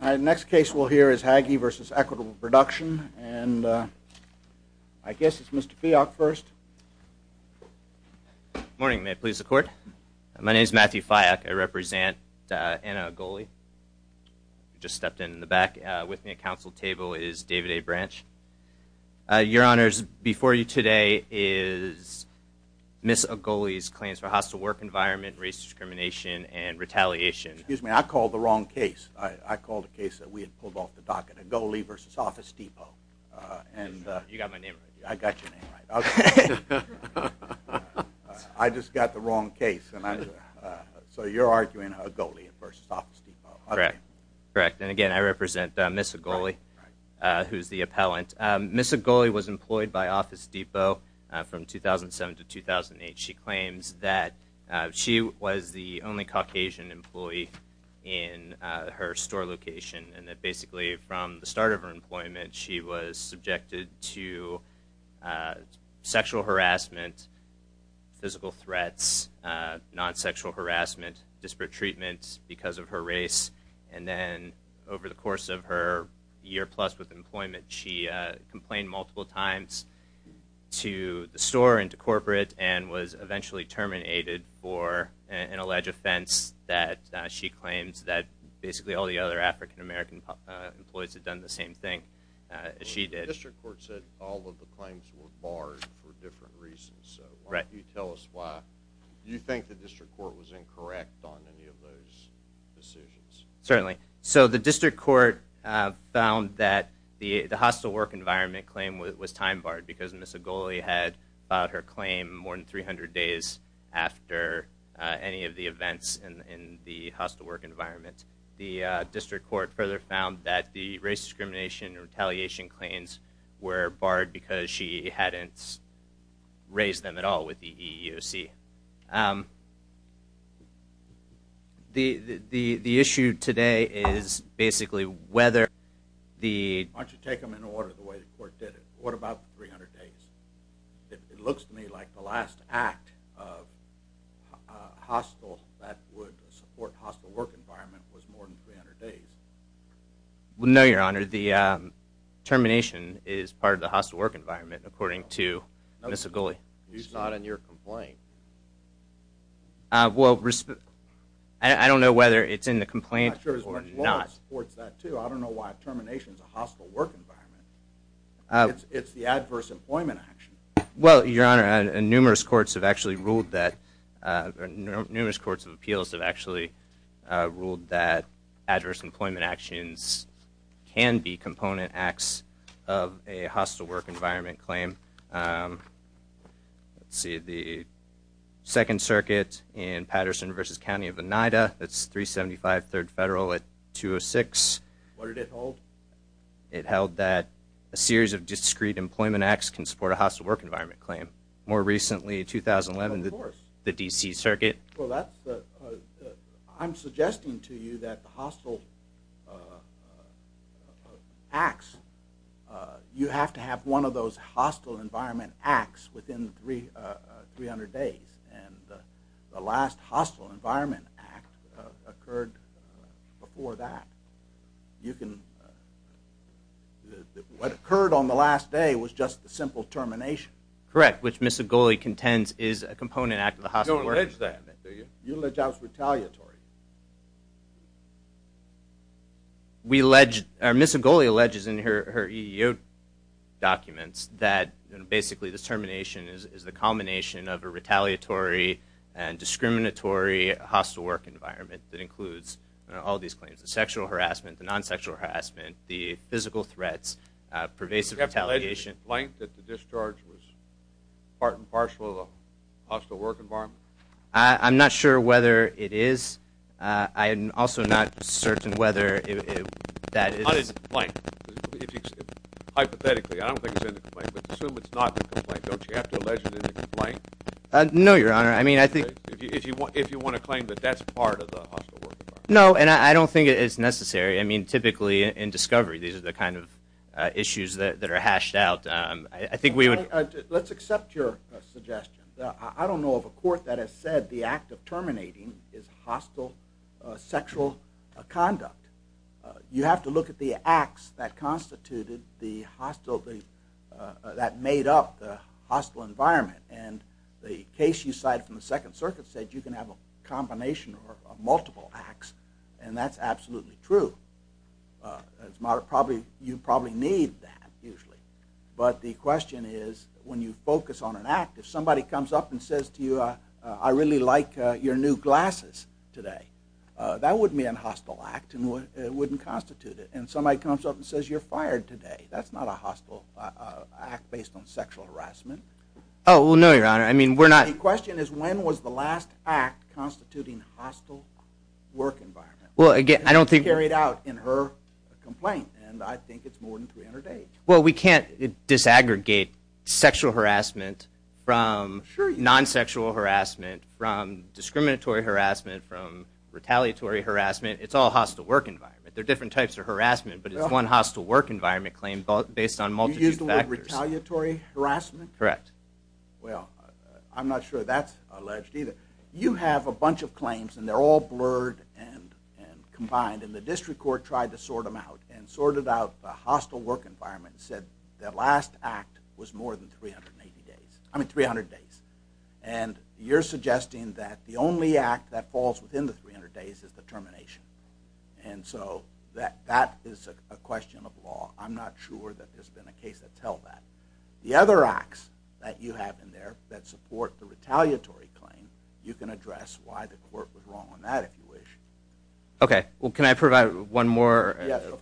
The next case we'll hear is Haggie v. Equitable Production, and I guess it's Mr. Fialk first. Good morning. May it please the Court? My name is Matthew Fialk. I represent Anna Agolli. You just stepped in in the back. With me at counsel table is David A. Branch. Your Honors, before you today is Ms. Agolli's claims for hostile work environment, race discrimination, and retaliation. Excuse me, I called the wrong case. I called a case that we had pulled off the docket, Agolli v. Office Depot. You got my name right. I got your name right. I just got the wrong case. So you're arguing Agolli v. Office Depot. Correct. And again, I represent Ms. Agolli, who's the appellant. Ms. Agolli was employed by Office Depot from 2007 to 2008. She claims that she was the only Caucasian employee in her store location, and that basically from the start of her employment she was subjected to sexual harassment, physical threats, non-sexual harassment, disparate treatments because of her race. And then over the course of her year plus with employment, she complained multiple times to the store and to corporate and was eventually terminated for an alleged offense that she claims that basically all the other African American employees had done the same thing as she did. The district court said all of the claims were barred for different reasons. Why don't you tell us why? Do you think the district court was incorrect on any of those decisions? Certainly. So the district court found that the hostile work environment claim was time barred because Ms. Agolli had filed her claim more than 300 days after any of the events in the hostile work environment. The district court further found that the race discrimination and retaliation claims were barred because she hadn't raised them at all with the EEOC. The issue today is basically whether the... Why don't you take them in order the way the court did it. What about the 300 days? It looks to me like the last act of hostile that would support hostile work environment was more than 300 days. No, your honor. The termination is part of the hostile work environment according to Ms. Agolli. It's not in your complaint. I don't know whether it's in the complaint or not. I don't know why termination is a hostile work environment. It's the adverse employment action. Well, your honor, numerous courts of appeals have actually ruled that adverse employment actions can be component acts of a hostile work environment claim. Let's see. The second circuit in Patterson v. County of Oneida. That's 375 Third Federal at 206. What did it hold? It held that a series of discrete employment acts can support a hostile work environment claim. More recently, 2011, the D.C. circuit. Well, I'm suggesting to you that the hostile acts, you have to have one of those hostile environment acts within 300 days. And the last hostile environment act occurred before that. You can, what occurred on the last day was just a simple termination. Correct, which Ms. Agolli contends is a component act of the hostile work environment. You allege that's retaliatory. Ms. Agolli alleges in her EEO documents that basically the termination is the combination of a retaliatory and discriminatory hostile work environment that includes all these claims. The sexual harassment, the non-sexual harassment, the physical threats, pervasive retaliation. Do you have to allege in the complaint that the discharge was part and parcel of a hostile work environment? I'm not sure whether it is. I'm also not certain whether that is. Not in the complaint. Hypothetically, I don't think it's in the complaint. Let's assume it's not in the complaint. Don't you have to allege it in the complaint? No, your honor. I mean, I think. If you want to claim that that's part of the hostile work environment. No, and I don't think it's necessary. I mean, typically in discovery, these are the kind of issues that are hashed out. I think we would. Let's accept your suggestion. I don't know of a court that has said the act of terminating is hostile sexual conduct. You have to look at the acts that constituted the hostile, that made up the hostile environment. And the case you cited from the Second Circuit said you can have a combination of multiple acts, and that's absolutely true. You probably need that, usually. But the question is, when you focus on an act, if somebody comes up and says to you, I really like your new glasses today, that wouldn't be a hostile act, and it wouldn't constitute it. And somebody comes up and says you're fired today, that's not a hostile act based on sexual harassment. Oh, well, no, your honor. I mean, we're not. The question is, when was the last act constituting hostile work environment? Well, again, I don't think. Carried out in her complaint, and I think it's more than 300 days. Well, we can't disaggregate sexual harassment from non-sexual harassment, from discriminatory harassment, from retaliatory harassment. It's all hostile work environment. There are different types of harassment, but it's one hostile work environment claim based on multiple factors. You used the word retaliatory harassment? Correct. Well, I'm not sure that's alleged either. You have a bunch of claims, and they're all blurred and combined, and the district court tried to sort them out, and sorted out the hostile work environment and said the last act was more than 300 days. And you're suggesting that the only act that falls within the 300 days is the termination. And so that is a question of law. I'm not sure that there's been a case that tells that. The other acts that you have in there that support the retaliatory claim, you can address why the court was wrong on that if you wish. Okay. Well, can I provide one more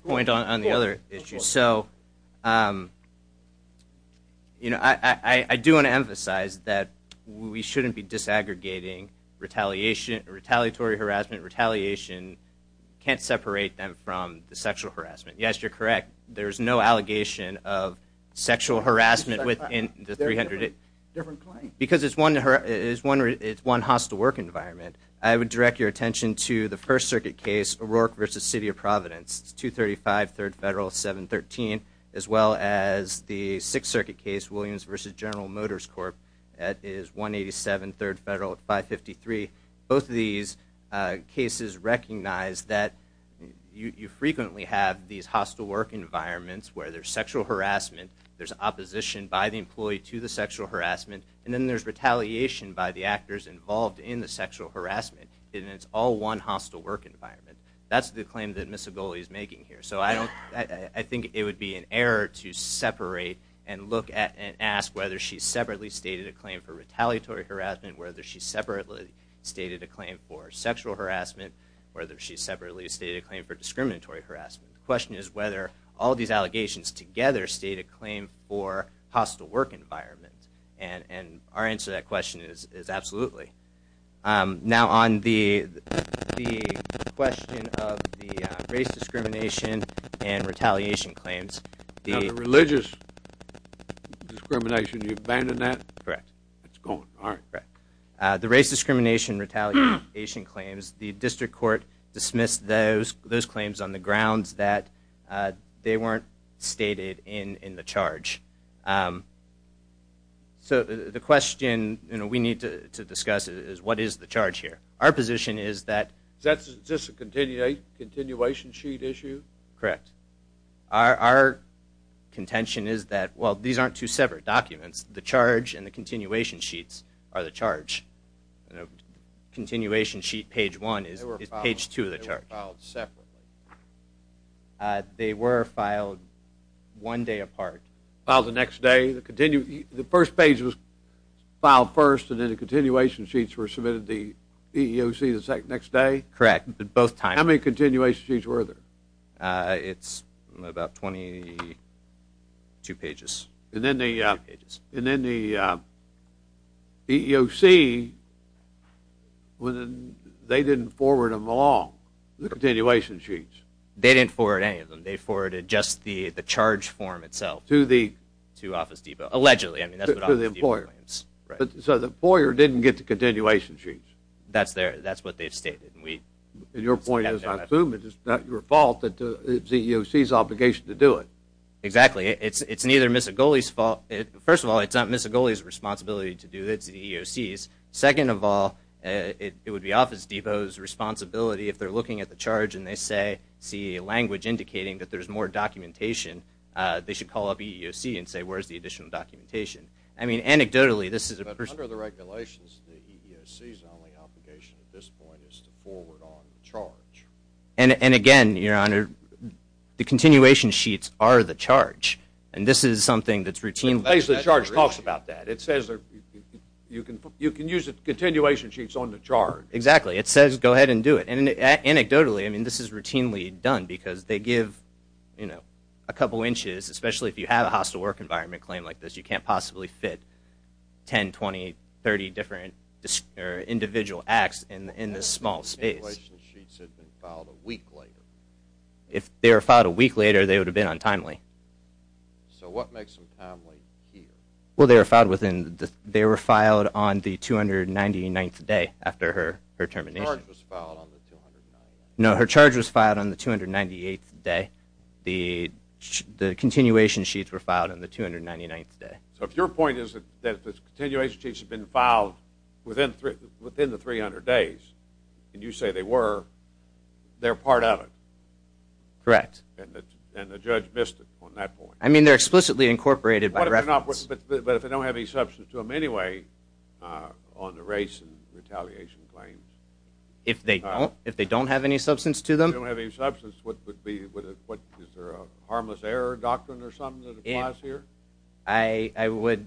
point on the other issue? So, you know, I do want to emphasize that we shouldn't be disaggregating retaliation, retaliatory harassment. Retaliation can't separate them from the sexual harassment. Yes, you're correct. There's no allegation of sexual harassment within the 300 days. Different claim. Because it's one hostile work environment. I would direct your attention to the First Circuit case O'Rourke v. City of Providence, 235 Third Federal 713, as well as the Sixth Circuit case Williams v. General Motors Corp. at 187 Third Federal 553. Both of these cases recognize that you frequently have these hostile work environments where there's sexual harassment, there's opposition by the employee to the sexual harassment, and then there's retaliation by the actors involved in the sexual harassment. And it's all one hostile work environment. That's the claim that Ms. Aboli is making here. So I think it would be an error to separate and look at and ask whether she separately stated a claim for retaliatory harassment, whether she separately stated a claim for sexual harassment, whether she separately stated a claim for discriminatory harassment. The question is whether all these allegations together state a claim for hostile work environment. And our answer to that question is absolutely. Now on the question of the race discrimination and retaliation claims. Now the religious discrimination, you abandoned that? Correct. The race discrimination, retaliation claims, the district court dismissed those claims on the grounds that they weren't stated in the charge. So the question we need to discuss is what is the charge here? Our position is that… Is this a continuation sheet issue? Correct. Our contention is that, well, these aren't two separate documents. The charge and the continuation sheets are the charge. Continuation sheet page one is page two of the charge. They were filed separately. They were filed one day apart. Filed the next day? The first page was filed first and then the continuation sheets were submitted to the EEOC the next day? Correct. Both times. How many continuation sheets were there? It's about 22 pages. And then the EEOC, they didn't forward them along, the continuation sheets? They didn't forward any of them. They forwarded just the charge form itself to Office Depot. Allegedly. So the employer didn't get the continuation sheets? That's what they've stated. And your point is, I assume it's not your fault that the EEOC's obligation to do it? Exactly. It's neither Missigoli's fault… First of all, it's not Missigoli's responsibility to do this, it's the EEOC's. Second of all, it would be Office Depot's responsibility if they're looking at the charge and they see language indicating that there's more documentation, they should call up EEOC and say, where's the additional documentation? I mean, anecdotally, this is a… But under the regulations, the EEOC's only obligation at this point is to forward on the charge. And again, Your Honor, the continuation sheets are the charge. And this is something that's routinely… The charge talks about that. It says you can use continuation sheets on the charge. Exactly. It says go ahead and do it. And anecdotally, I mean, this is routinely done because they give, you know, a couple inches, especially if you have a hostile work environment claim like this, you can't possibly fit 10, 20, 30 different individual acts in this small space. What if the continuation sheets had been filed a week later? If they were filed a week later, they would have been untimely. So what makes them timely here? Well, they were filed on the 299th day after her termination. Her charge was filed on the 299th? No, her charge was filed on the 298th day. The continuation sheets were filed on the 299th day. So if your point is that the continuation sheets have been filed within the 300 days, and you say they were, they're part of it. Correct. And the judge missed it on that point. I mean, they're explicitly incorporated by reference. But if they don't have any substance to them anyway on the race and retaliation claims? If they don't have any substance to them? If they don't have any substance, what would be, is there a harmless error doctrine or something that applies here? I would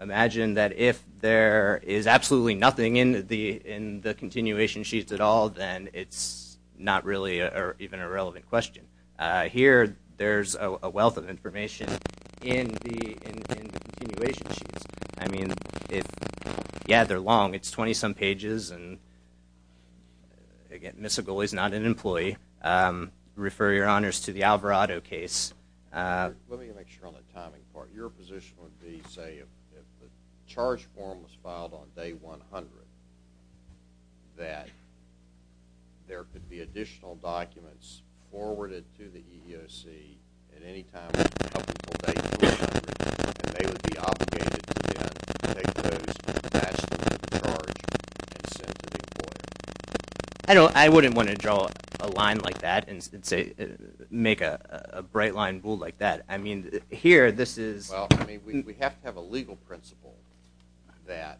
imagine that if there is absolutely nothing in the continuation sheets at all, then it's not really even a relevant question. Here, there's a wealth of information in the continuation sheets. I mean, yeah, they're long. It's 20-some pages. And again, Ms. Sigal is not an employee. Refer your honors to the Alvarado case. Let me make sure on the timing part. Your position would be, say, if the charge form was filed on day 100, that there could be additional documents forwarded to the EEOC at any time in the couple of days from day 100, and they would be obligated to take those, pass them to the charge, and send them to the court? I wouldn't want to draw a line like that and make a bright line like that. I mean, here, this is… Well, I mean, we have to have a legal principle that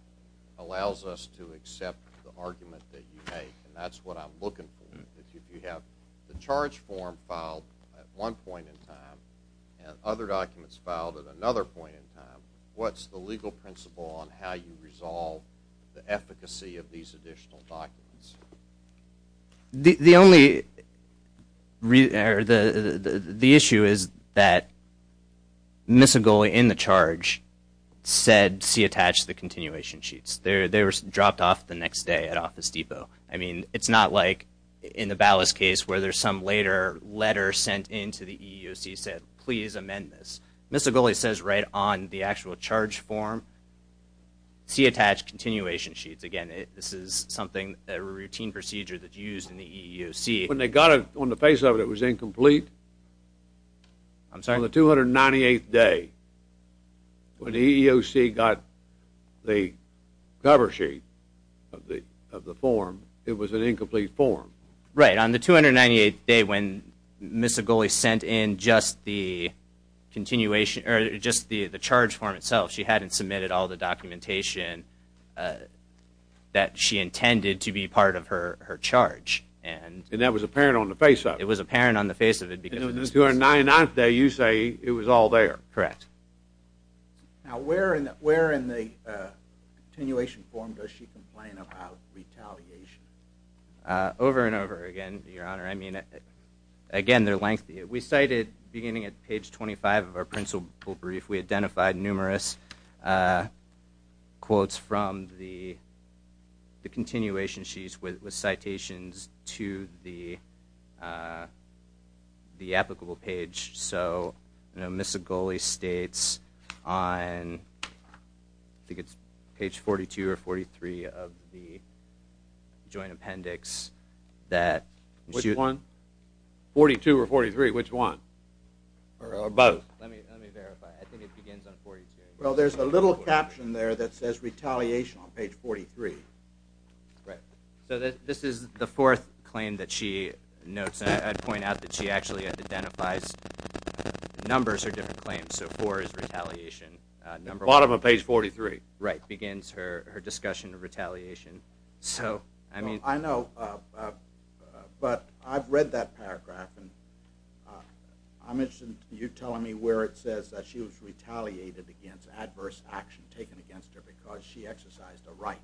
allows us to accept the argument that you make. And that's what I'm looking for. If you have the charge form filed at one point in time and other documents filed at another point in time, what's the legal principle on how you resolve the efficacy of these additional documents? The only… The issue is that Ms. Sigal, in the charge, said, see attached to the continuation sheets. They were dropped off the next day at Office Depot. I mean, it's not like in the Ballas case where there's some later letter sent in to the EEOC that said, please amend this. Ms. Sigal says right on the actual charge form, see attached continuation sheets. Again, this is something, a routine procedure that's used in the EEOC. When they got it, on the face of it, it was incomplete. I'm sorry? On the 298th day, when the EEOC got the cover sheet of the form, it was an incomplete form. Right. On the 298th day, when Ms. Sigal sent in just the charge form itself, she hadn't submitted all the documentation that she intended to be part of her charge. And that was apparent on the face of it. It was apparent on the face of it. And on the 29th day, you say it was all there. Correct. Now, where in the continuation form does she complain about retaliation? Over and over again, Your Honor. I mean, again, they're lengthy. We cited, beginning at page 25 of our principal brief, we identified numerous quotes from the continuation sheets with citations to the applicable page. So, Ms. Sigali states on, I think it's page 42 or 43 of the joint appendix, that... Which one? 42 or 43, which one? Or both? Let me verify. I think it begins on 42. Well, there's a little caption there that says retaliation on page 43. Right. So, this is the fourth claim that she notes. And I'd point out that she actually identifies the numbers are different claims. So, four is retaliation. Bottom of page 43. Right. Begins her discussion of retaliation. So, I mean... I know. But I've read that paragraph. And I'm interested in you telling me where it says that she was retaliated against, adverse action taken against her because she exercised a right.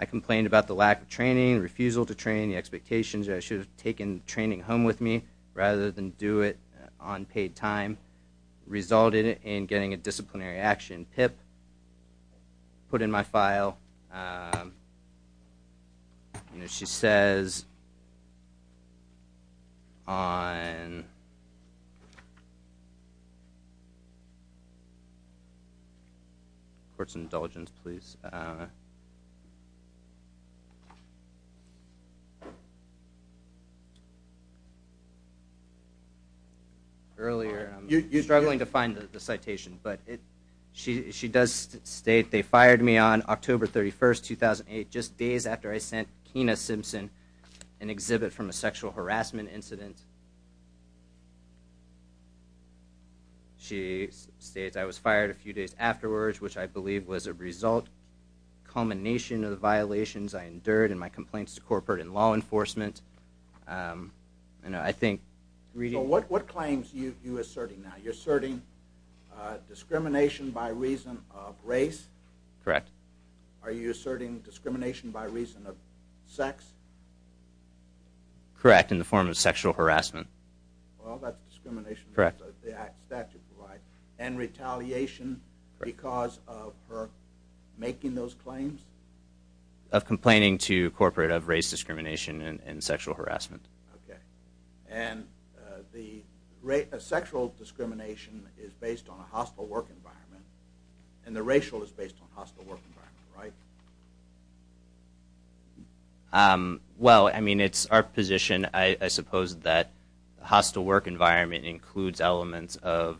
I complained about the lack of training, refusal to train, the expectations that I should have taken training home with me rather than do it on paid time. Resulted in getting a disciplinary action. Put in my file. She says... On... Court's indulgence, please. I don't know. Earlier, I'm struggling to find the citation. But she does state, they fired me on October 31, 2008, just days after I sent Keena Simpson an exhibit from a sexual harassment incident. Yes. She states, I was fired a few days afterwards, which I believe was a result, culmination of the violations I endured in my complaints to corporate and law enforcement. And I think... So, what claims are you asserting now? You're asserting discrimination by reason of race? Correct. Are you asserting discrimination by reason of sex? Correct, in the form of sexual harassment. Well, that's discrimination... Correct. ...that the statute provides. And retaliation because of her making those claims? Of complaining to corporate of race discrimination and sexual harassment. Okay. And the sexual discrimination is based on a hostile work environment, and the racial is based on a hostile work environment, right? Well, I mean, it's our position, I suppose, that hostile work environment includes elements of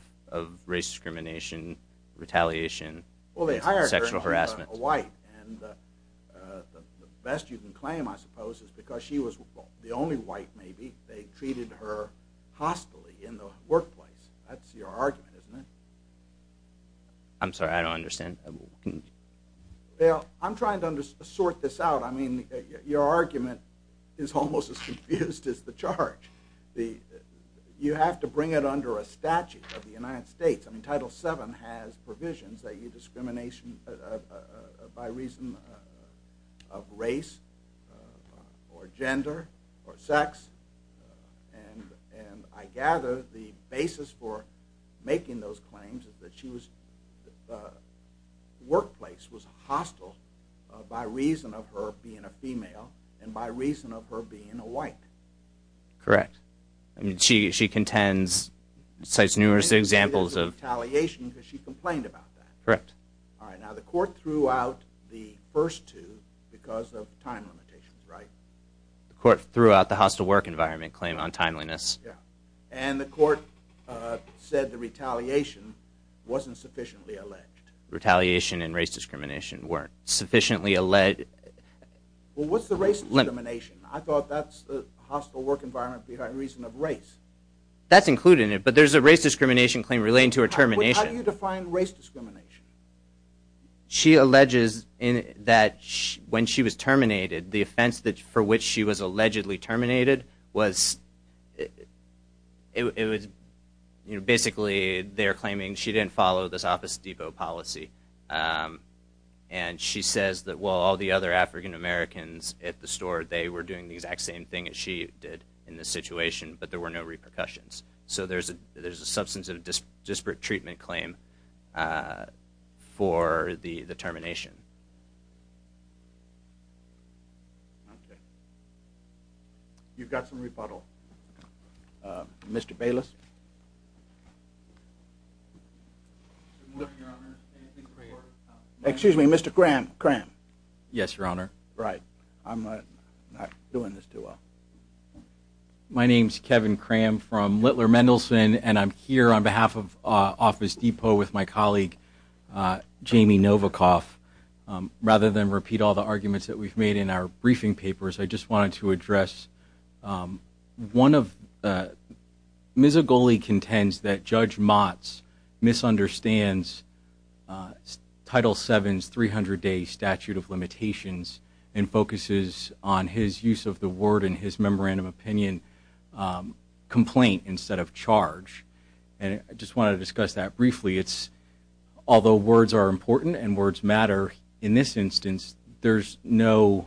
race discrimination, retaliation, sexual harassment. Well, they hired her as a white, and the best you can claim, I suppose, is because she was the only white, maybe, they treated her hostilely in the workplace. That's your argument, isn't it? I'm sorry, I don't understand. Well, I'm trying to sort this out. I mean, your argument is almost as confused as the charge. You have to bring it under a statute of the United States. I mean, Title VII has provisions that you discrimination by reason of race or gender or sex. And I gather the basis for making those claims is that she was, the workplace was hostile by reason of her being a female and by reason of her being a white. Correct. I mean, she contends, cites numerous examples of... And retaliation because she complained about that. Correct. All right. Now, the court threw out the first two because of time limitations, right? The court threw out the hostile work environment claim on timeliness. And the court said the retaliation wasn't sufficiently alleged. Retaliation and race discrimination weren't sufficiently alleged. Well, what's the race discrimination? I thought that's the hostile work environment behind reason of race. That's included in it, but there's a race discrimination claim relating to her termination. How do you define race discrimination? She alleges that when she was terminated, the offense for which she was allegedly terminated was... Basically, they're claiming she didn't follow this Office Depot policy. And she says that, well, all the other African Americans at the store, they were doing the exact same thing that she did in this situation, but there were no repercussions. So there's a substance of disparate treatment claim for the termination. Okay. You've got some rebuttal. Mr. Bayless? Good morning, Your Honor. Excuse me, Mr. Cram. Yes, Your Honor. Right. I'm not doing this too well. My name's Kevin Cram from Littler Mendelson, and I'm here on behalf of Office Depot with my colleague, Jamie Novikoff. Rather than repeat all the arguments that we've made in our briefing papers, I just wanted to address one of... Judge Motz misunderstands Title VII's 300-day statute of limitations and focuses on his use of the word in his memorandum opinion complaint instead of charge. And I just wanted to discuss that briefly. Although words are important and words matter, in this instance, there's no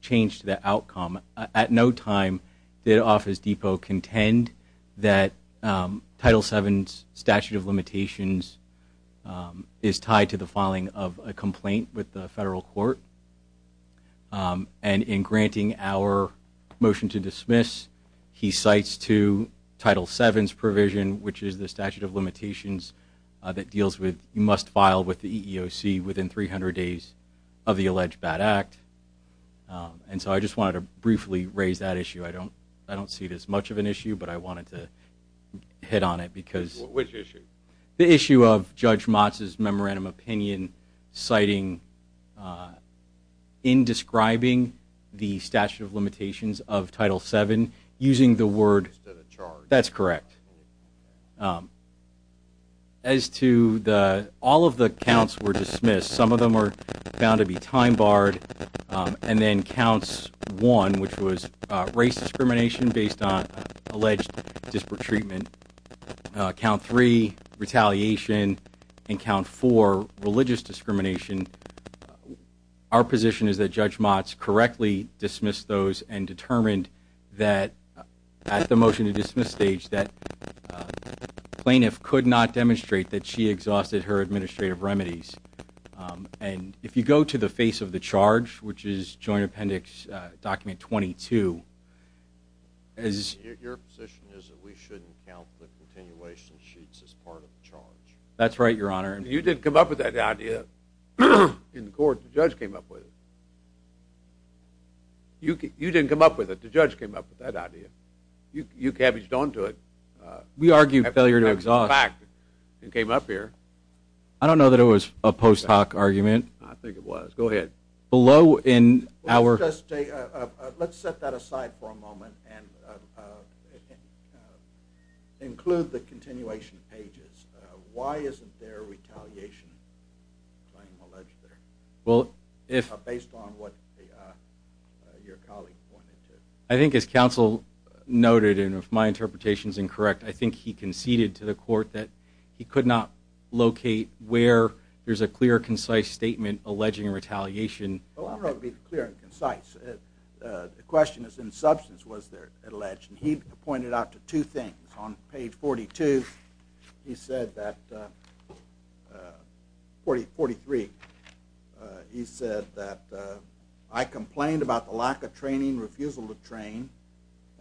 change to the outcome. At no time did Office Depot contend that Title VII's statute of limitations is tied to the filing of a complaint with the federal court. And in granting our motion to dismiss, he cites to Title VII's provision, which is the statute of limitations that deals with you must file with the EEOC within 300 days of the alleged bad act. And so I just wanted to briefly raise that issue. I don't see it as much of an issue, but I wanted to hit on it because... Which issue? The issue of Judge Motz's memorandum opinion citing indescribing the statute of limitations of Title VII using the word... Instead of charge. That's correct. As to all of the counts were dismissed, some of them are found to be time-barred. And then Counts 1, which was race discrimination based on alleged disparate treatment. Count 3, retaliation. And Count 4, religious discrimination. Our position is that Judge Motz correctly dismissed those and determined that at the motion to dismiss stage that plaintiff could not demonstrate that she exhausted her administrative remedies. And if you go to the face of the charge, which is Joint Appendix Document 22... Your position is that we shouldn't count the continuation sheets as part of the charge. That's right, Your Honor. You didn't come up with that idea. In court, the judge came up with it. You didn't come up with it. The judge came up with that idea. You cabbaged onto it. We argued failure to exhaust. It came up here. I don't know that it was a post hoc argument. I think it was. Go ahead. Below in our... Let's set that aside for a moment and include the continuation pages. Why isn't there retaliation claim alleged there? Based on what your colleague pointed to. I think as counsel noted, and if my interpretation is incorrect, I think he conceded to the court that he could not locate where there's a clear, concise statement alleging retaliation. I don't know if it would be clear and concise. The question is in substance was there alleged. He pointed out two things. On page 42, he said that... 43. He said that I complained about the lack of training, refusal to train,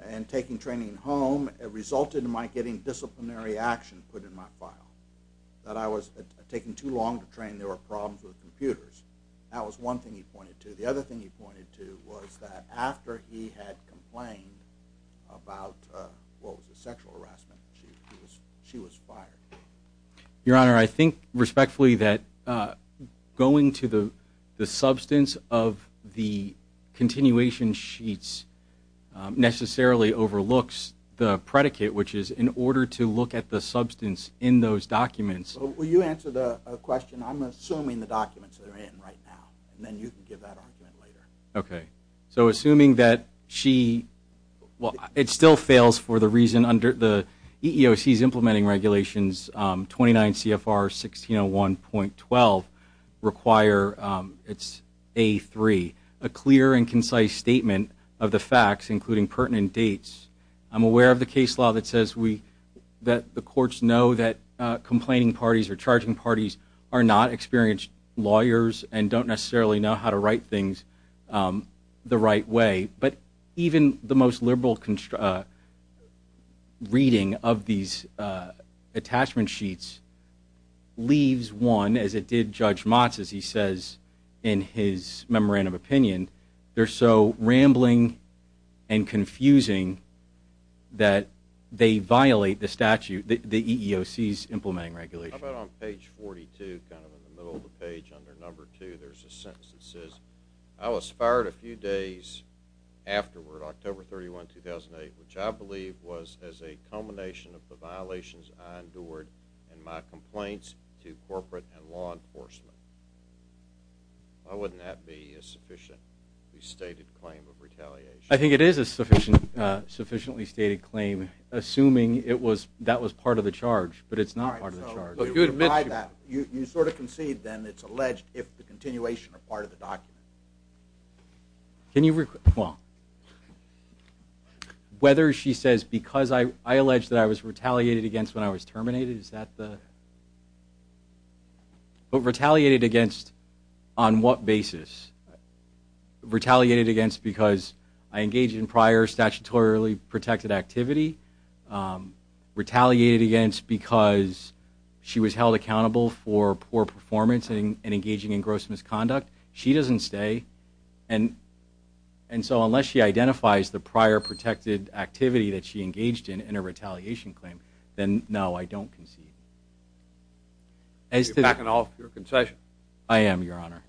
and taking training home resulted in my getting disciplinary action put in my file. That I was taking too long to train. There were problems with computers. That was one thing he pointed to. The other thing he pointed to was that after he had complained about what was a sexual harassment, she was fired. Your Honor, I think respectfully that going to the substance of the continuation sheets necessarily overlooks the predicate, which is in order to look at the substance in those documents... Will you answer the question? I'm assuming the documents are in right now. And then you can give that argument later. Okay. So assuming that she... It still fails for the reason under the EEOC's implementing regulations 29 CFR 1601.12 require it's A3, a clear and concise statement of the facts, including pertinent dates. I'm aware of the case law that says that the courts know that complaining parties or charging parties are not experienced lawyers and don't necessarily know how to write things the right way. But even the most liberal reading of these attachment sheets leaves one, as it did Judge Motz, as he says in his memorandum opinion, they're so rambling and confusing that they violate the statute, the EEOC's implementing regulations. How about on page 42, kind of in the middle of the page under number two, there's a sentence that says, I was fired a few days afterward, October 31, 2008, which I believe was as a culmination of the violations I endured and my complaints to corporate and law enforcement. Why wouldn't that be a sufficiently stated claim of retaliation? I think it is a sufficiently stated claim, assuming that was part of the charge, but it's not part of the charge. You sort of concede then it's alleged if the continuation are part of the document. Can you, well, whether she says because I alleged that I was retaliated against when I was terminated, is that the? But retaliated against on what basis? Retaliated against because I engaged in prior statutorily protected activity. Retaliated against because she was held accountable for poor performance and engaging in gross misconduct. She doesn't stay and so unless she identifies the prior protected activity that she engaged in in a retaliation claim, then no, I don't concede. You're backing off your concession. I am, your honor.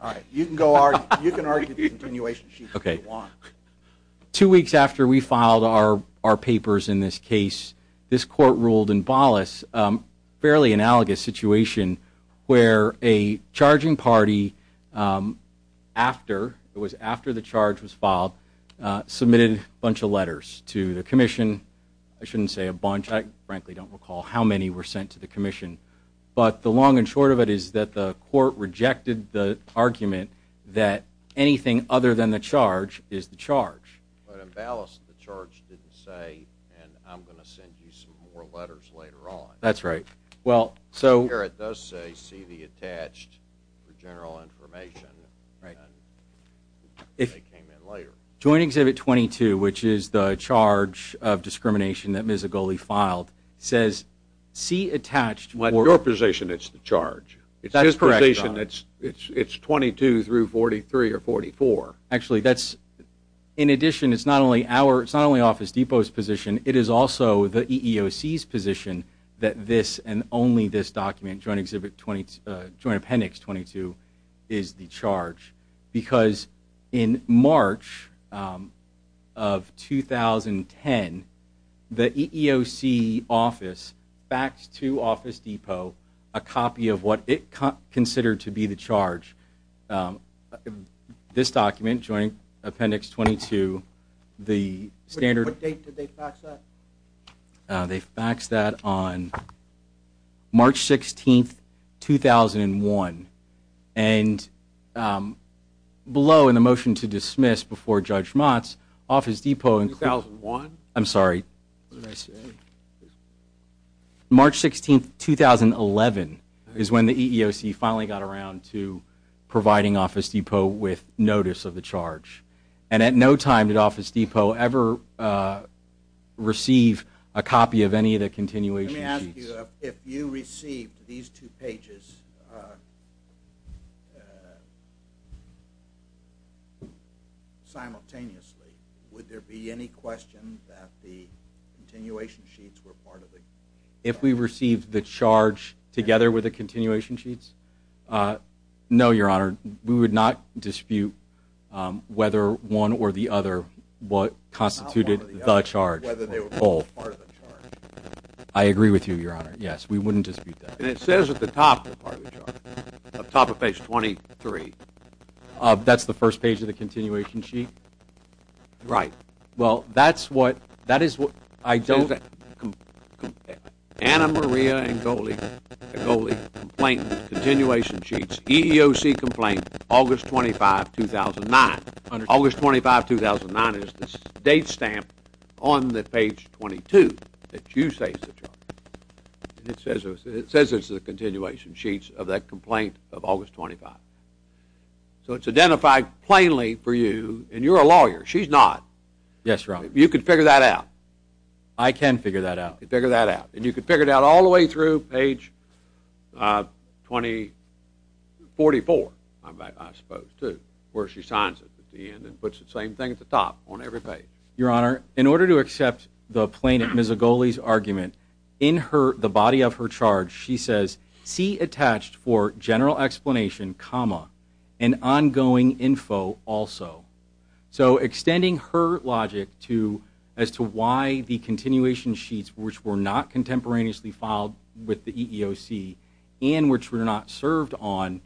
All right, you can argue the continuation sheet if you want. Two weeks after we filed our papers in this case, this court ruled in Bollas a fairly analogous situation where a charging party after, it was after the charge was filed, submitted a bunch of letters to the commission. I shouldn't say a bunch, I frankly don't recall how many were sent to the commission. But the long and short of it is that the court rejected the argument that anything other than the charge is the charge. But in Bollas the charge didn't say and I'm going to send you some more letters later on. That's right. Well, so. Here it does say see the attached for general information. Right. And they came in later. Joint Exhibit 22, which is the charge of discrimination that Ms. Agole filed, says see attached for. Your position it's the charge. That's correct. It's 22 through 43 or 44. Actually that's, in addition it's not only our, it's not only Office Depot's position, it is also the EEOC's position that this and only this document, Joint Appendix 22, is the charge. Because in March of 2010, the EEOC office faxed to Office Depot a copy of what it considered to be the charge. This document, Joint Appendix 22, the standard. What date did they fax that? They faxed that on March 16, 2001. And below in the motion to dismiss before Judge Motz, Office Depot. 2001? I'm sorry. What did I say? March 16, 2011 is when the EEOC finally got around to providing Office Depot with notice of the charge. And at no time did Office Depot ever receive a copy of any of the continuation sheets. Let me ask you, if you received these two pages simultaneously, would there be any question that the continuation sheets were part of it? If we received the charge together with the continuation sheets? No, Your Honor. We would not dispute whether one or the other constituted the charge. Whether they were part of the charge. I agree with you, Your Honor. Yes, we wouldn't dispute that. And it says at the top of the charge, at the top of page 23. That's the first page of the continuation sheet? Right. Well, that is what I don't... EEOC complaint, August 25, 2009. August 25, 2009 is the date stamp on the page 22 that you say is the charge. It says it's the continuation sheets of that complaint of August 25. So it's identified plainly for you, and you're a lawyer. She's not. Yes, Your Honor. You can figure that out. I can figure that out. You can figure that out. And you can figure it out all the way through page 244, I suppose, too, where she signs it at the end and puts the same thing at the top on every page. Your Honor, in order to accept the plaintiff, Ms. Agoli's, argument, in the body of her charge, she says, see attached for general explanation, comma, and ongoing info also. So extending her logic as to why the continuation sheets, which were not contemporaneously filed with the EEOC and which were not served on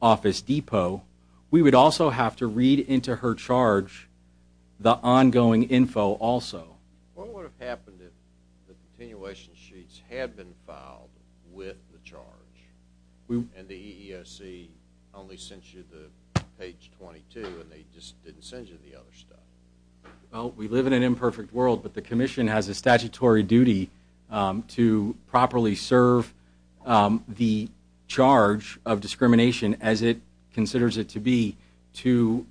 Office Depot, we would also have to read into her charge the ongoing info also. What would have happened if the continuation sheets had been filed with the charge and the EEOC only sent you the page 22 and they just didn't send you the other stuff? Well, we live in an imperfect world, but the Commission has a statutory duty to properly serve the charge of discrimination as it considers it to be to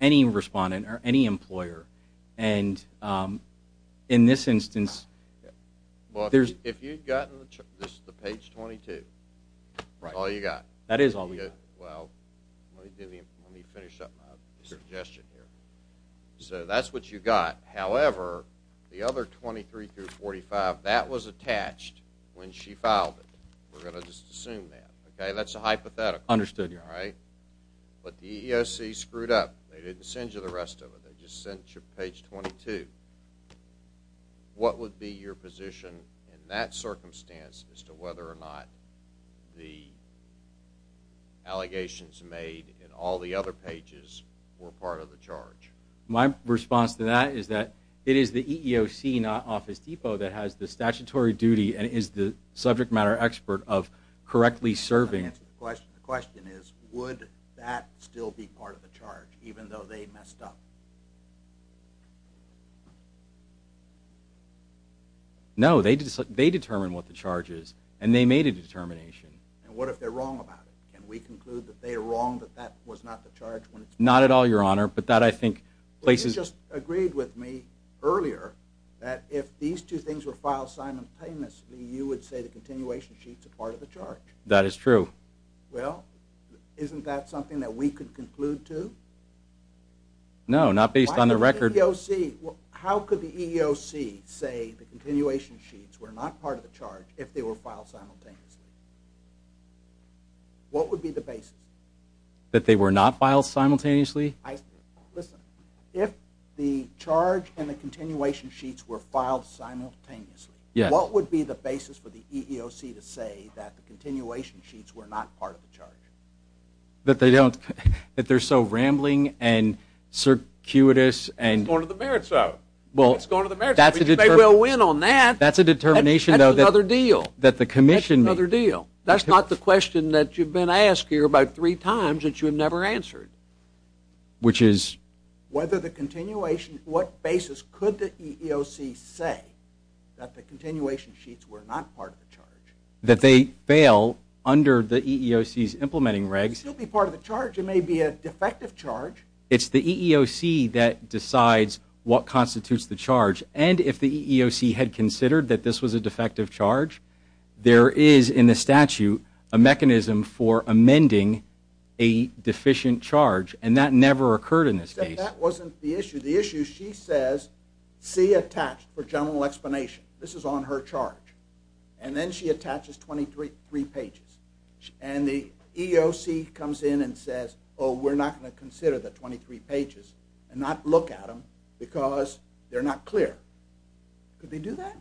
any respondent or any employer. And in this instance, there's If you'd gotten the page 22, that's all you got. That is all we got. Well, let me finish up my suggestion here. So that's what you got. However, the other 23 through 45, that was attached when she filed it. We're going to just assume that. That's a hypothetical. Understood, Your Honor. But the EEOC screwed up. They didn't send you the rest of it. They just sent you page 22. What would be your position in that circumstance as to whether or not the allegations made in all the other pages were part of the charge? My response to that is that it is the EEOC, not Office Depot, that has the statutory duty and is the subject matter expert of correctly serving. The question is, would that still be part of the charge, even though they messed up? No. They determine what the charge is, and they made a determination. And what if they're wrong about it? Can we conclude that they are wrong, that that was not the charge? Not at all, Your Honor. But that, I think, places You just agreed with me earlier that if these two things were filed simultaneously, you would say the continuation sheet's a part of the charge. That is true. Well, isn't that something that we could conclude to? No, not based on the record. Why would the EEOC How could the EEOC say the continuation sheets were not part of the charge if they were filed simultaneously? What would be the basis? That they were not filed simultaneously? Listen, if the charge and the continuation sheets were filed simultaneously, what would be the basis for the EEOC to say that the continuation sheets were not part of the charge? That they don't That they're so rambling and circuitous It's going to the merits, though. It's going to the merits. You may well win on that. That's a determination, though. That's another deal. That the commission That's another deal. That's not the question that you've been asked here about three times that you've never answered. Which is whether the continuation What basis could the EEOC say that the continuation sheets were not part of the charge? That they fail under the EEOC's implementing regs Still be part of the charge. It may be a defective charge. It's the EEOC that decides what constitutes the charge. And if the EEOC had considered that this was a defective charge, there is in the statute a mechanism for amending a deficient charge. And that never occurred in this case. Except that wasn't the issue. The issue, she says, C attached for general explanation. This is on her charge. And then she attaches 23 pages. And the EEOC comes in and says, Oh, we're not going to consider the 23 pages and not look at them because they're not clear. Could they do that?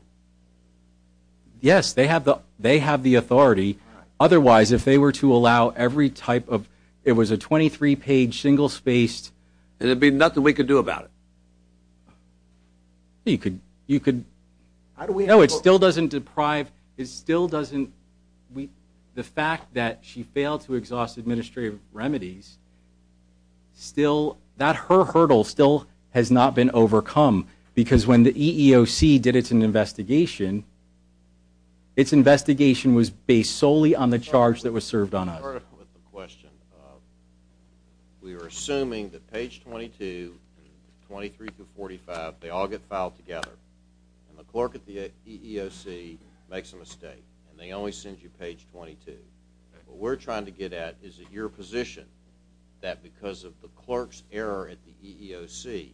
Yes, they have the authority. Otherwise, if they were to allow every type of It was a 23-page, single-spaced. And there'd be nothing we could do about it. You could. No, it still doesn't deprive. It still doesn't. The fact that she failed to exhaust administrative remedies, that hurdle still has not been overcome. Because when the EEOC did its investigation, its investigation was based solely on the charge that was served on us. To start off with the question, we were assuming that page 22, 23 through 45, they all get filed together. And the clerk at the EEOC makes a mistake. And they only send you page 22. What we're trying to get at is that your position, that because of the clerk's error at the EEOC,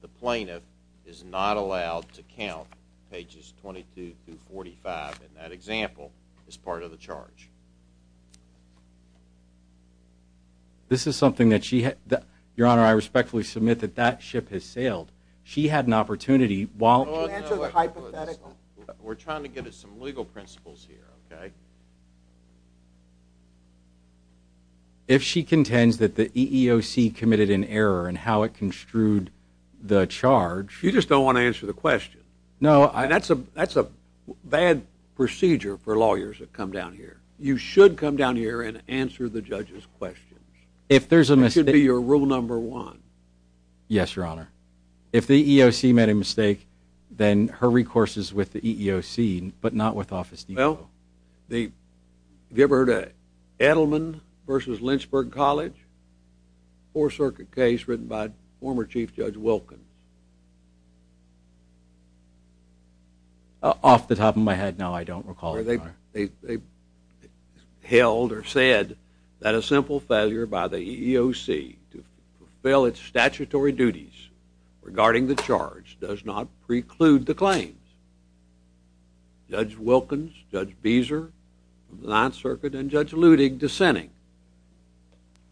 the plaintiff is not allowed to count pages 22 through 45. And that example is part of the charge. This is something that she had. Your Honor, I respectfully submit that that ship has sailed. She had an opportunity while Can you answer the hypothetical? We're trying to get at some legal principles here. If she contends that the EEOC committed an error and how it construed the charge You just don't want to answer the question. No, I That's a bad procedure for lawyers that come down here. You should come down here and answer the judge's questions. If there's a mistake That should be your rule number one. Yes, Your Honor. If the EEOC made a mistake, then her recourse is with the EEOC, but not with Office Depot. Well, have you ever heard of Edelman v. Lynchburg College? Four-circuit case written by former Chief Judge Wilkins. Off the top of my head, no, I don't recall, Your Honor. They held or said that a simple failure by the EEOC to fulfill its statutory duties regarding the charge does not preclude the claims. Judge Wilkins, Judge Beezer, the Ninth Circuit, and Judge Ludig dissenting.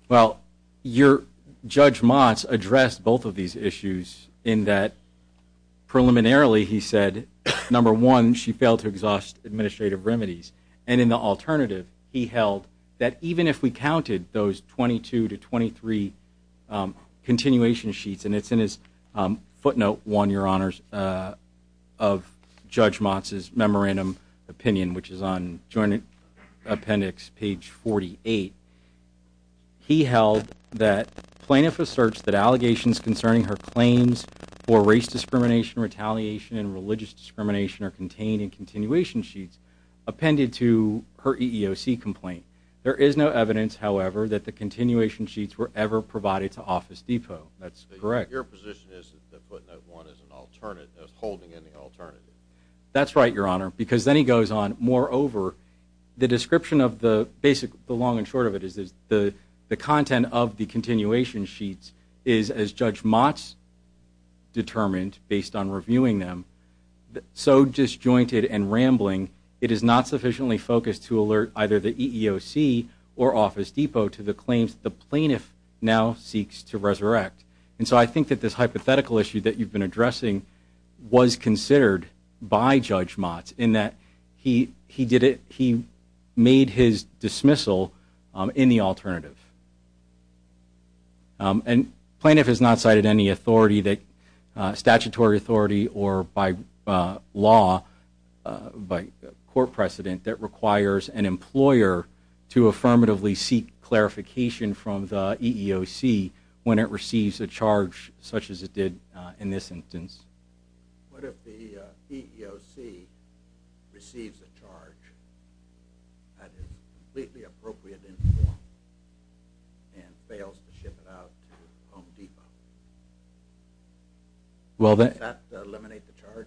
Well, Judge Motz addressed both of these issues in that preliminarily he said, number one, she failed to exhaust administrative remedies. And in the alternative, he held that even if we counted those 22 to 23 continuation sheets, and it's in his footnote one, Your Honors, of Judge Motz's memorandum opinion, which is on joint appendix page 48, he held that plaintiff asserts that allegations concerning her claims for race discrimination, retaliation, and religious discrimination are contained in continuation sheets appended to her EEOC complaint. There is no evidence, however, that the continuation sheets were ever provided to Office Depot. That's correct. Your position is that footnote one is an alternative, is holding an alternative. That's right, Your Honor. Because then he goes on, moreover, the description of the basic, the long and short of it is the content of the continuation sheets is, as Judge Motz determined based on reviewing them, so disjointed and rambling, it is not sufficiently focused to alert either the EEOC or Office Depot to the claims the plaintiff now seeks to resurrect. And so I think that this hypothetical issue that you've been addressing was considered by Judge Motz in that he did it, he made his dismissal in the alternative. And plaintiff has not cited any authority that, statutory authority or by law, by court precedent, that requires an employer to affirmatively seek such as it did in this instance. What if the EEOC receives a charge that is completely appropriate in form and fails to ship it out to Home Depot? Does that eliminate the charge?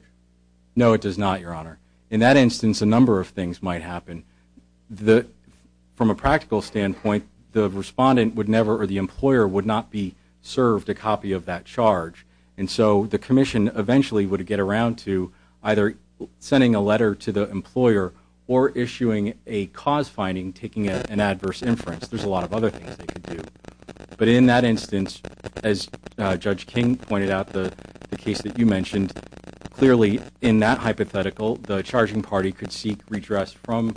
No, it does not, Your Honor. In that instance, a number of things might happen. From a practical standpoint, the respondent would never, or the employer would not be served a copy of that charge. And so the commission eventually would get around to either sending a letter to the employer or issuing a cause finding taking an adverse inference. There's a lot of other things they could do. But in that instance, as Judge King pointed out, the case that you mentioned, clearly in that hypothetical, the charging party could seek redress from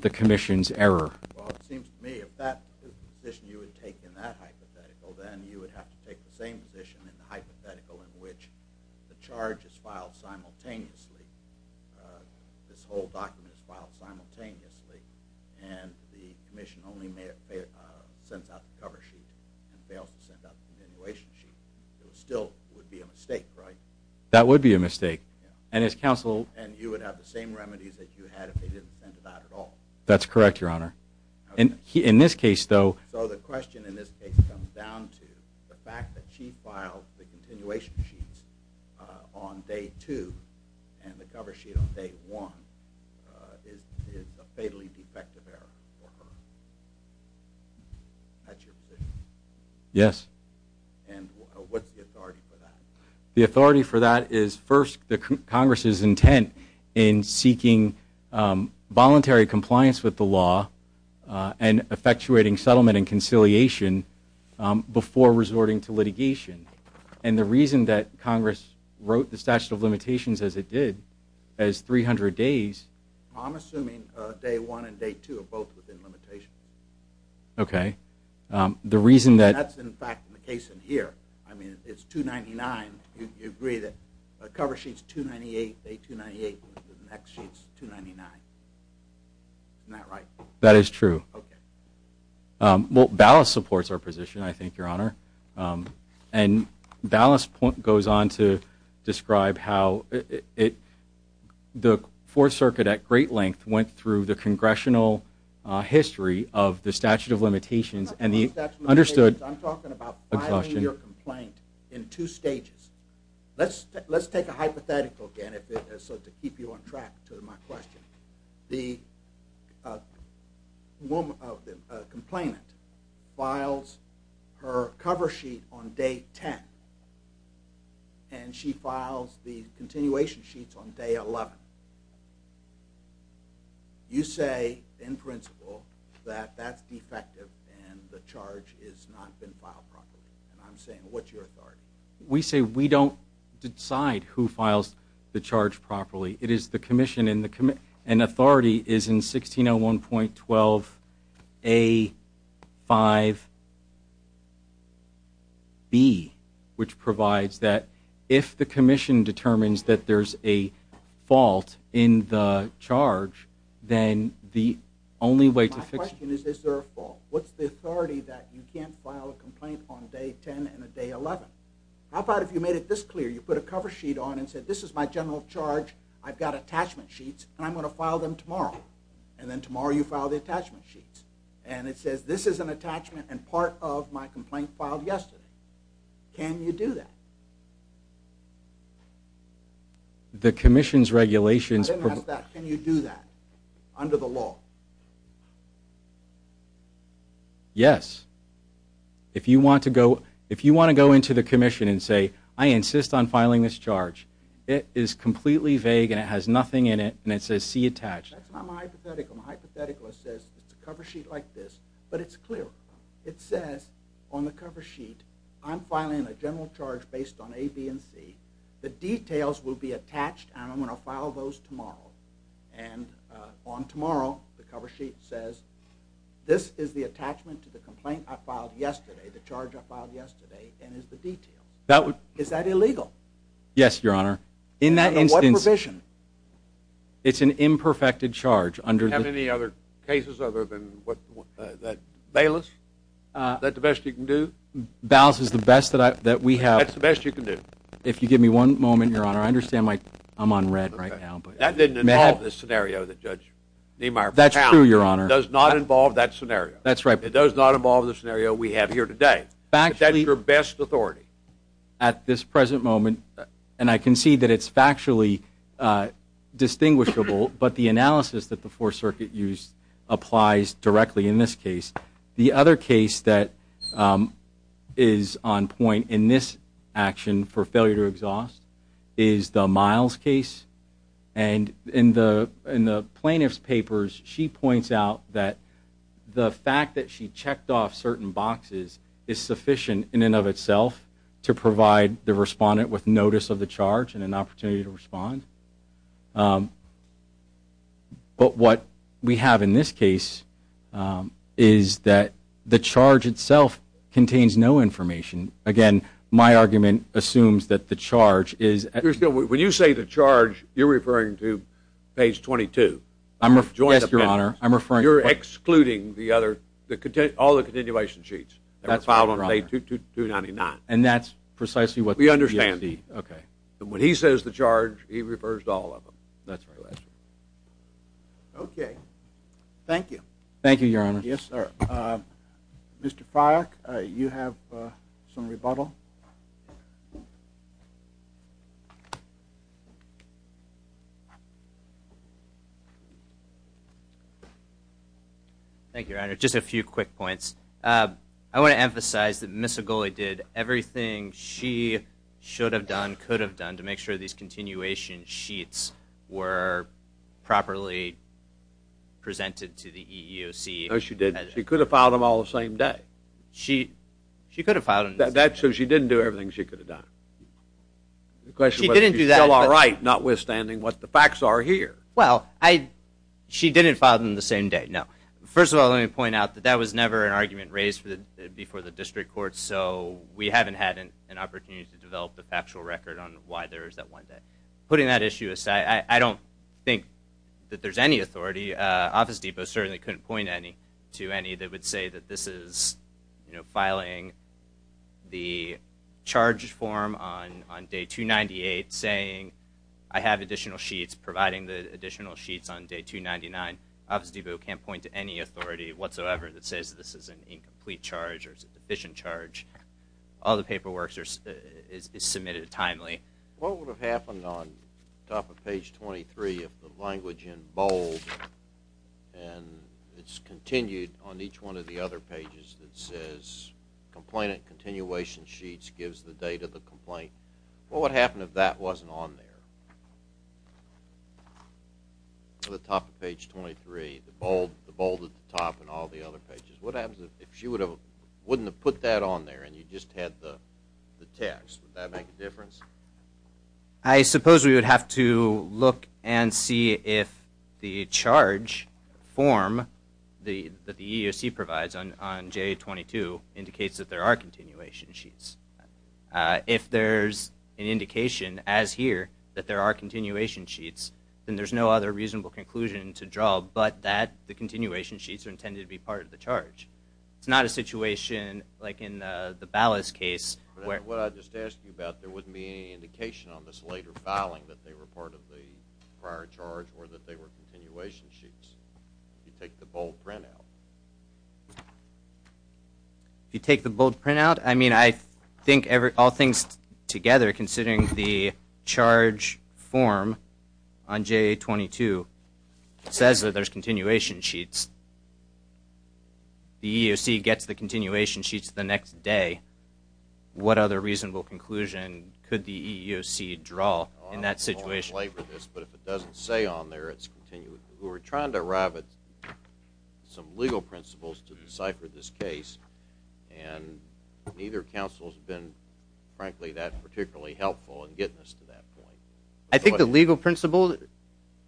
the commission's error. Well, it seems to me if that is the position you would take in that hypothetical, then you would have to take the same position in the hypothetical in which the charge is filed simultaneously, this whole document is filed simultaneously, and the commission only sends out the cover sheet and fails to send out the continuation sheet. It still would be a mistake, right? That would be a mistake. And you would have the same remedies that you had if they didn't send it out at all. That's correct, Your Honor. In this case, though... So the question in this case comes down to the fact that she filed the continuation sheets on day two and the cover sheet on day one is a fatally defective error for her. That's your position? Yes. And what's the authority for that? The authority for that is, first, the Congress's intent in seeking voluntary compliance with the law and effectuating settlement and conciliation before resorting to litigation. And the reason that Congress wrote the statute of limitations as it did, as 300 days... I'm assuming day one and day two are both within limitation. Okay. That's, in fact, the case in here. I mean, it's 299. You agree that cover sheet's 298, day 298, and the next sheet's 299. Isn't that right? That is true. Okay. Well, Ballas supports our position, I think, Your Honor. And Ballas goes on to describe how the Fourth Circuit, at great length, went through the congressional history of the statute of limitations I'm talking about filing your complaint in two stages. Let's take a hypothetical again to keep you on track to my question. The complainant files her cover sheet on day 10, and she files the continuation sheets on day 11. You say, in principle, that that's defective and the charge has not been filed properly. And I'm saying, what's your authority? We say we don't decide who files the charge properly. It is the commission, and authority is in 1601.12a.5b, which provides that if the commission determines that there's a fault in the charge, then the only way to fix it. My question is, is there a fault? What's the authority that you can't file a complaint on day 10 and day 11? How about if you made it this clear? You put a cover sheet on and said, this is my general charge. I've got attachment sheets, and I'm going to file them tomorrow. And then tomorrow you file the attachment sheets. And it says, this is an attachment and part of my complaint filed yesterday. Can you do that? I didn't ask that. Can you do that under the law? Yes. If you want to go into the commission and say, I insist on filing this charge, it is completely vague and it has nothing in it, and it says, see attached. That's not my hypothetical. My hypothetical says it's a cover sheet like this, but it's clear. It says on the cover sheet, I'm filing a general charge based on a, b, and c. The details will be attached, and I'm going to file those tomorrow. And on tomorrow, the cover sheet says, this is the attachment to the complaint I filed yesterday, the charge I filed yesterday, and is the detail. Is that illegal? Yes, Your Honor. Under what provision? It's an imperfected charge. Do you have any other cases other than that? Balas? Is that the best you can do? Balas is the best that we have. That's the best you can do? If you give me one moment, Your Honor, I understand I'm on read right now. That didn't involve this scenario that Judge Niemeyer found. That's true, Your Honor. It does not involve that scenario. That's right. It does not involve the scenario we have here today. But that's your best authority. At this present moment, and I can see that it's factually distinguishable, but the analysis that the Fourth Circuit used applies directly in this case. The other case that is on point in this action for failure to exhaust is the Miles case. And in the plaintiff's papers, she points out that the fact that she checked off certain boxes is sufficient in and of itself to provide the respondent with notice of the charge and an opportunity to respond. But what we have in this case is that the charge itself contains no information. Again, my argument assumes that the charge is at least When you say the charge, you're referring to page 22. Yes, Your Honor. You're excluding all the continuation sheets that were filed on page 299. And that's precisely what the PSD. We understand. Okay. When he says the charge, he refers to all of them. That's correct. Okay. Thank you. Thank you, Your Honor. Yes, sir. Mr. Fryock, you have some rebuttal. Thank you, Your Honor. Just a few quick points. I want to emphasize that Ms. Agulli did everything she should have done, could have done to make sure these continuation sheets were properly presented to the EEOC. No, she didn't. She could have filed them all the same day. She could have filed them. That's true. She didn't do everything she could have done. She didn't do that. Notwithstanding what the facts are here. Well, she didn't file them the same day, no. First of all, let me point out that that was never an argument raised before the district court, so we haven't had an opportunity to develop a factual record on why there was that one day. Putting that issue aside, I don't think that there's any authority. Office Depot certainly couldn't point to any that would say that this is filing the charge form on day 298, saying I have additional sheets, providing the additional sheets on day 299. Office Depot can't point to any authority whatsoever that says this is an incomplete charge or deficient charge. All the paperwork is submitted timely. What would have happened on the top of page 23 if the language in bold and it's continued on each one of the other pages that says complainant continuation sheets gives the date of the complaint? What would happen if that wasn't on there? The top of page 23, the bold at the top and all the other pages. What happens if she wouldn't have put that on there and you just had the text? Would that make a difference? I suppose we would have to look and see if the charge form that the EEOC provides on day 22 indicates that there are continuation sheets. If there's an indication as here that there are continuation sheets, then there's no other reasonable conclusion to draw but that the continuation sheets are intended to be part of the charge. It's not a situation like in the Ballas case. What I just asked you about, there wouldn't be any indication on this later filing that they were part of the prior charge or that they were continuation sheets. You take the bold printout. You take the bold printout? I mean, I think all things together considering the charge form on J22 says that there's continuation sheets. Once the EEOC gets the continuation sheets the next day, what other reasonable conclusion could the EEOC draw in that situation? I don't want to belabor this, but if it doesn't say on there it's continuation. We were trying to arrive at some legal principles to decipher this case and neither counsel has been frankly that particularly helpful in getting us to that point. I think the legal principle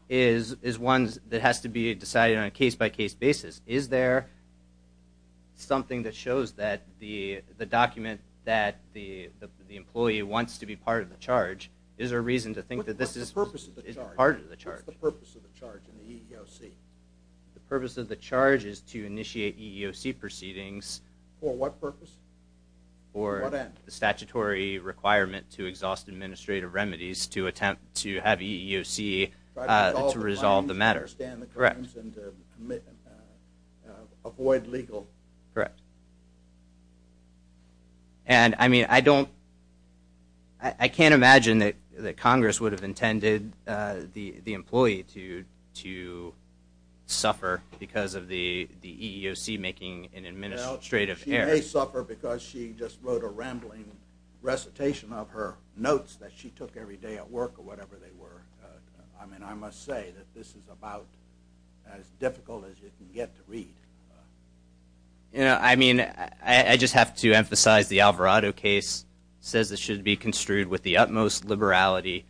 is one that has to be decided on a case-by-case basis. Is there something that shows that the document that the employee wants to be part of the charge? Is there a reason to think that this is part of the charge? What's the purpose of the charge in the EEOC? The purpose of the charge is to initiate EEOC proceedings. For what purpose? For the statutory requirement to exhaust administrative remedies to attempt to have EEOC to resolve the matter. Correct. Avoid legal. Correct. And, I mean, I can't imagine that Congress would have intended the employee to suffer because of the EEOC making an administrative error. She may suffer because she just wrote a rambling recitation of her notes that she took every day at work or whatever they were. I mean, I must say that this is about as difficult as you can get to read. You know, I mean, I just have to emphasize the Alvarado case says it should be construed with the utmost liberality.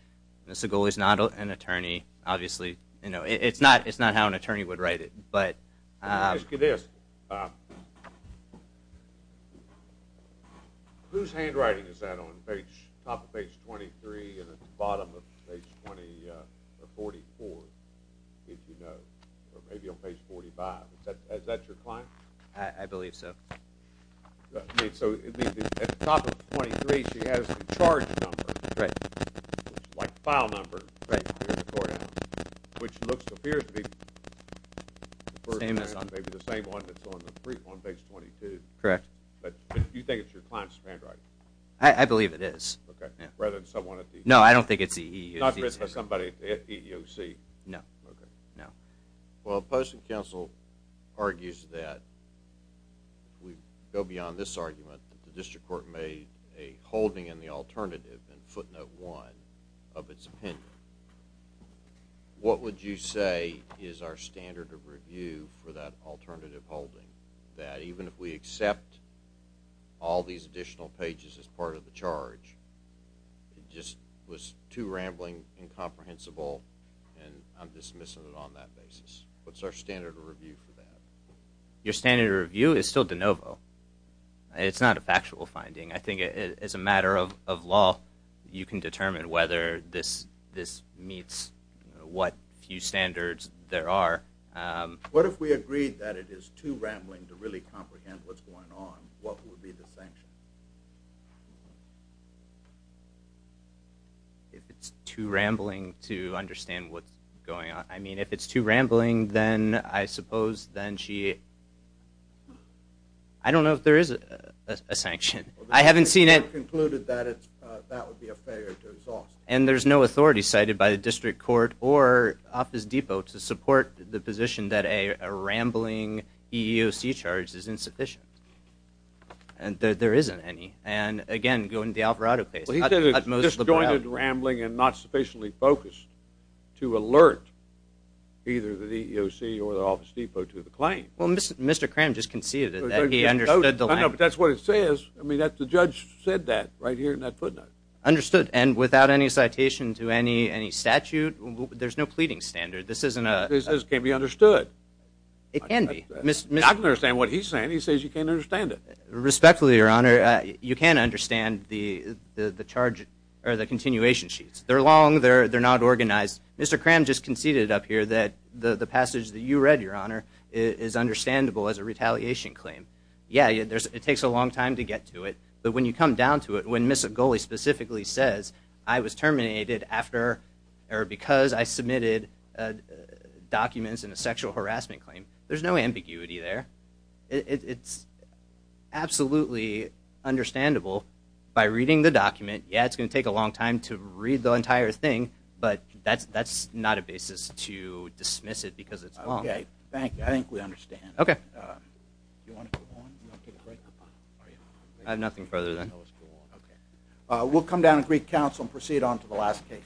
Mr. Goley is not an attorney, obviously. You know, it's not how an attorney would write it. Let me ask you this. Whose handwriting is that on top of page 23 and at the bottom of page 44, if you know? Or maybe on page 45. Is that your client? I believe so. So, at the top of page 23, she has the charge number. Right. Like file number. Right. Which looks to appear to be the same one that's on page 22. Correct. But do you think it's your client's handwriting? I believe it is. Okay. Rather than someone at the EEOC. No, I don't think it's the EEOC. Not written by somebody at the EEOC. Okay. Well, the Postal Council argues that we go beyond this argument that the District Court made a holding in the alternative in footnote one of its opinion. What would you say is our standard of review for that alternative holding? That even if we accept all these additional pages as part of the charge, it just was too rambling, incomprehensible, and I'm dismissing it on that basis. What's our standard of review for that? Your standard of review is still de novo. It's not a factual finding. I think as a matter of law, you can determine whether this meets what few standards there are. What if we agreed that it is too rambling to really comprehend what's going on? What would be the sanction? If it's too rambling to understand what's going on. I mean, if it's too rambling, then I suppose, then she... I don't know if there is a sanction. I haven't seen it. We've concluded that that would be a failure to exhaust. And there's no authority cited by the District Court or Office Depot to support the position that a rambling EEOC charge is insufficient. There isn't any. And again, going to the Alvarado case. He did a disjointed rambling and not sufficiently focused to alert either the EEOC or the Office Depot to the claim. Well, Mr. Cram just conceded that he understood the language. I know, but that's what it says. I mean, the judge said that right here in that footnote. Understood, and without any citation to any statute, there's no pleading standard. This can't be understood. It can be. I don't understand what he's saying. He says you can't understand it. Respectfully, Your Honor, you can't understand the charge or the continuation sheets. They're long. They're not organized. Mr. Cram just conceded up here that the passage that you read, Your Honor, is understandable as a retaliation claim. Yeah, it takes a long time to get to it. But when you come down to it, when Ms. Ogole specifically says, I was terminated because I submitted documents in a sexual harassment claim, there's no ambiguity there. It's absolutely understandable by reading the document. Yeah, it's going to take a long time to read the entire thing, but that's not a basis to dismiss it because it's long. Okay, thank you. I think we understand. Okay. Do you want to go on? Do you want to take a break? I have nothing further than that. Okay. We'll come down to Greek Council and proceed on to the last case.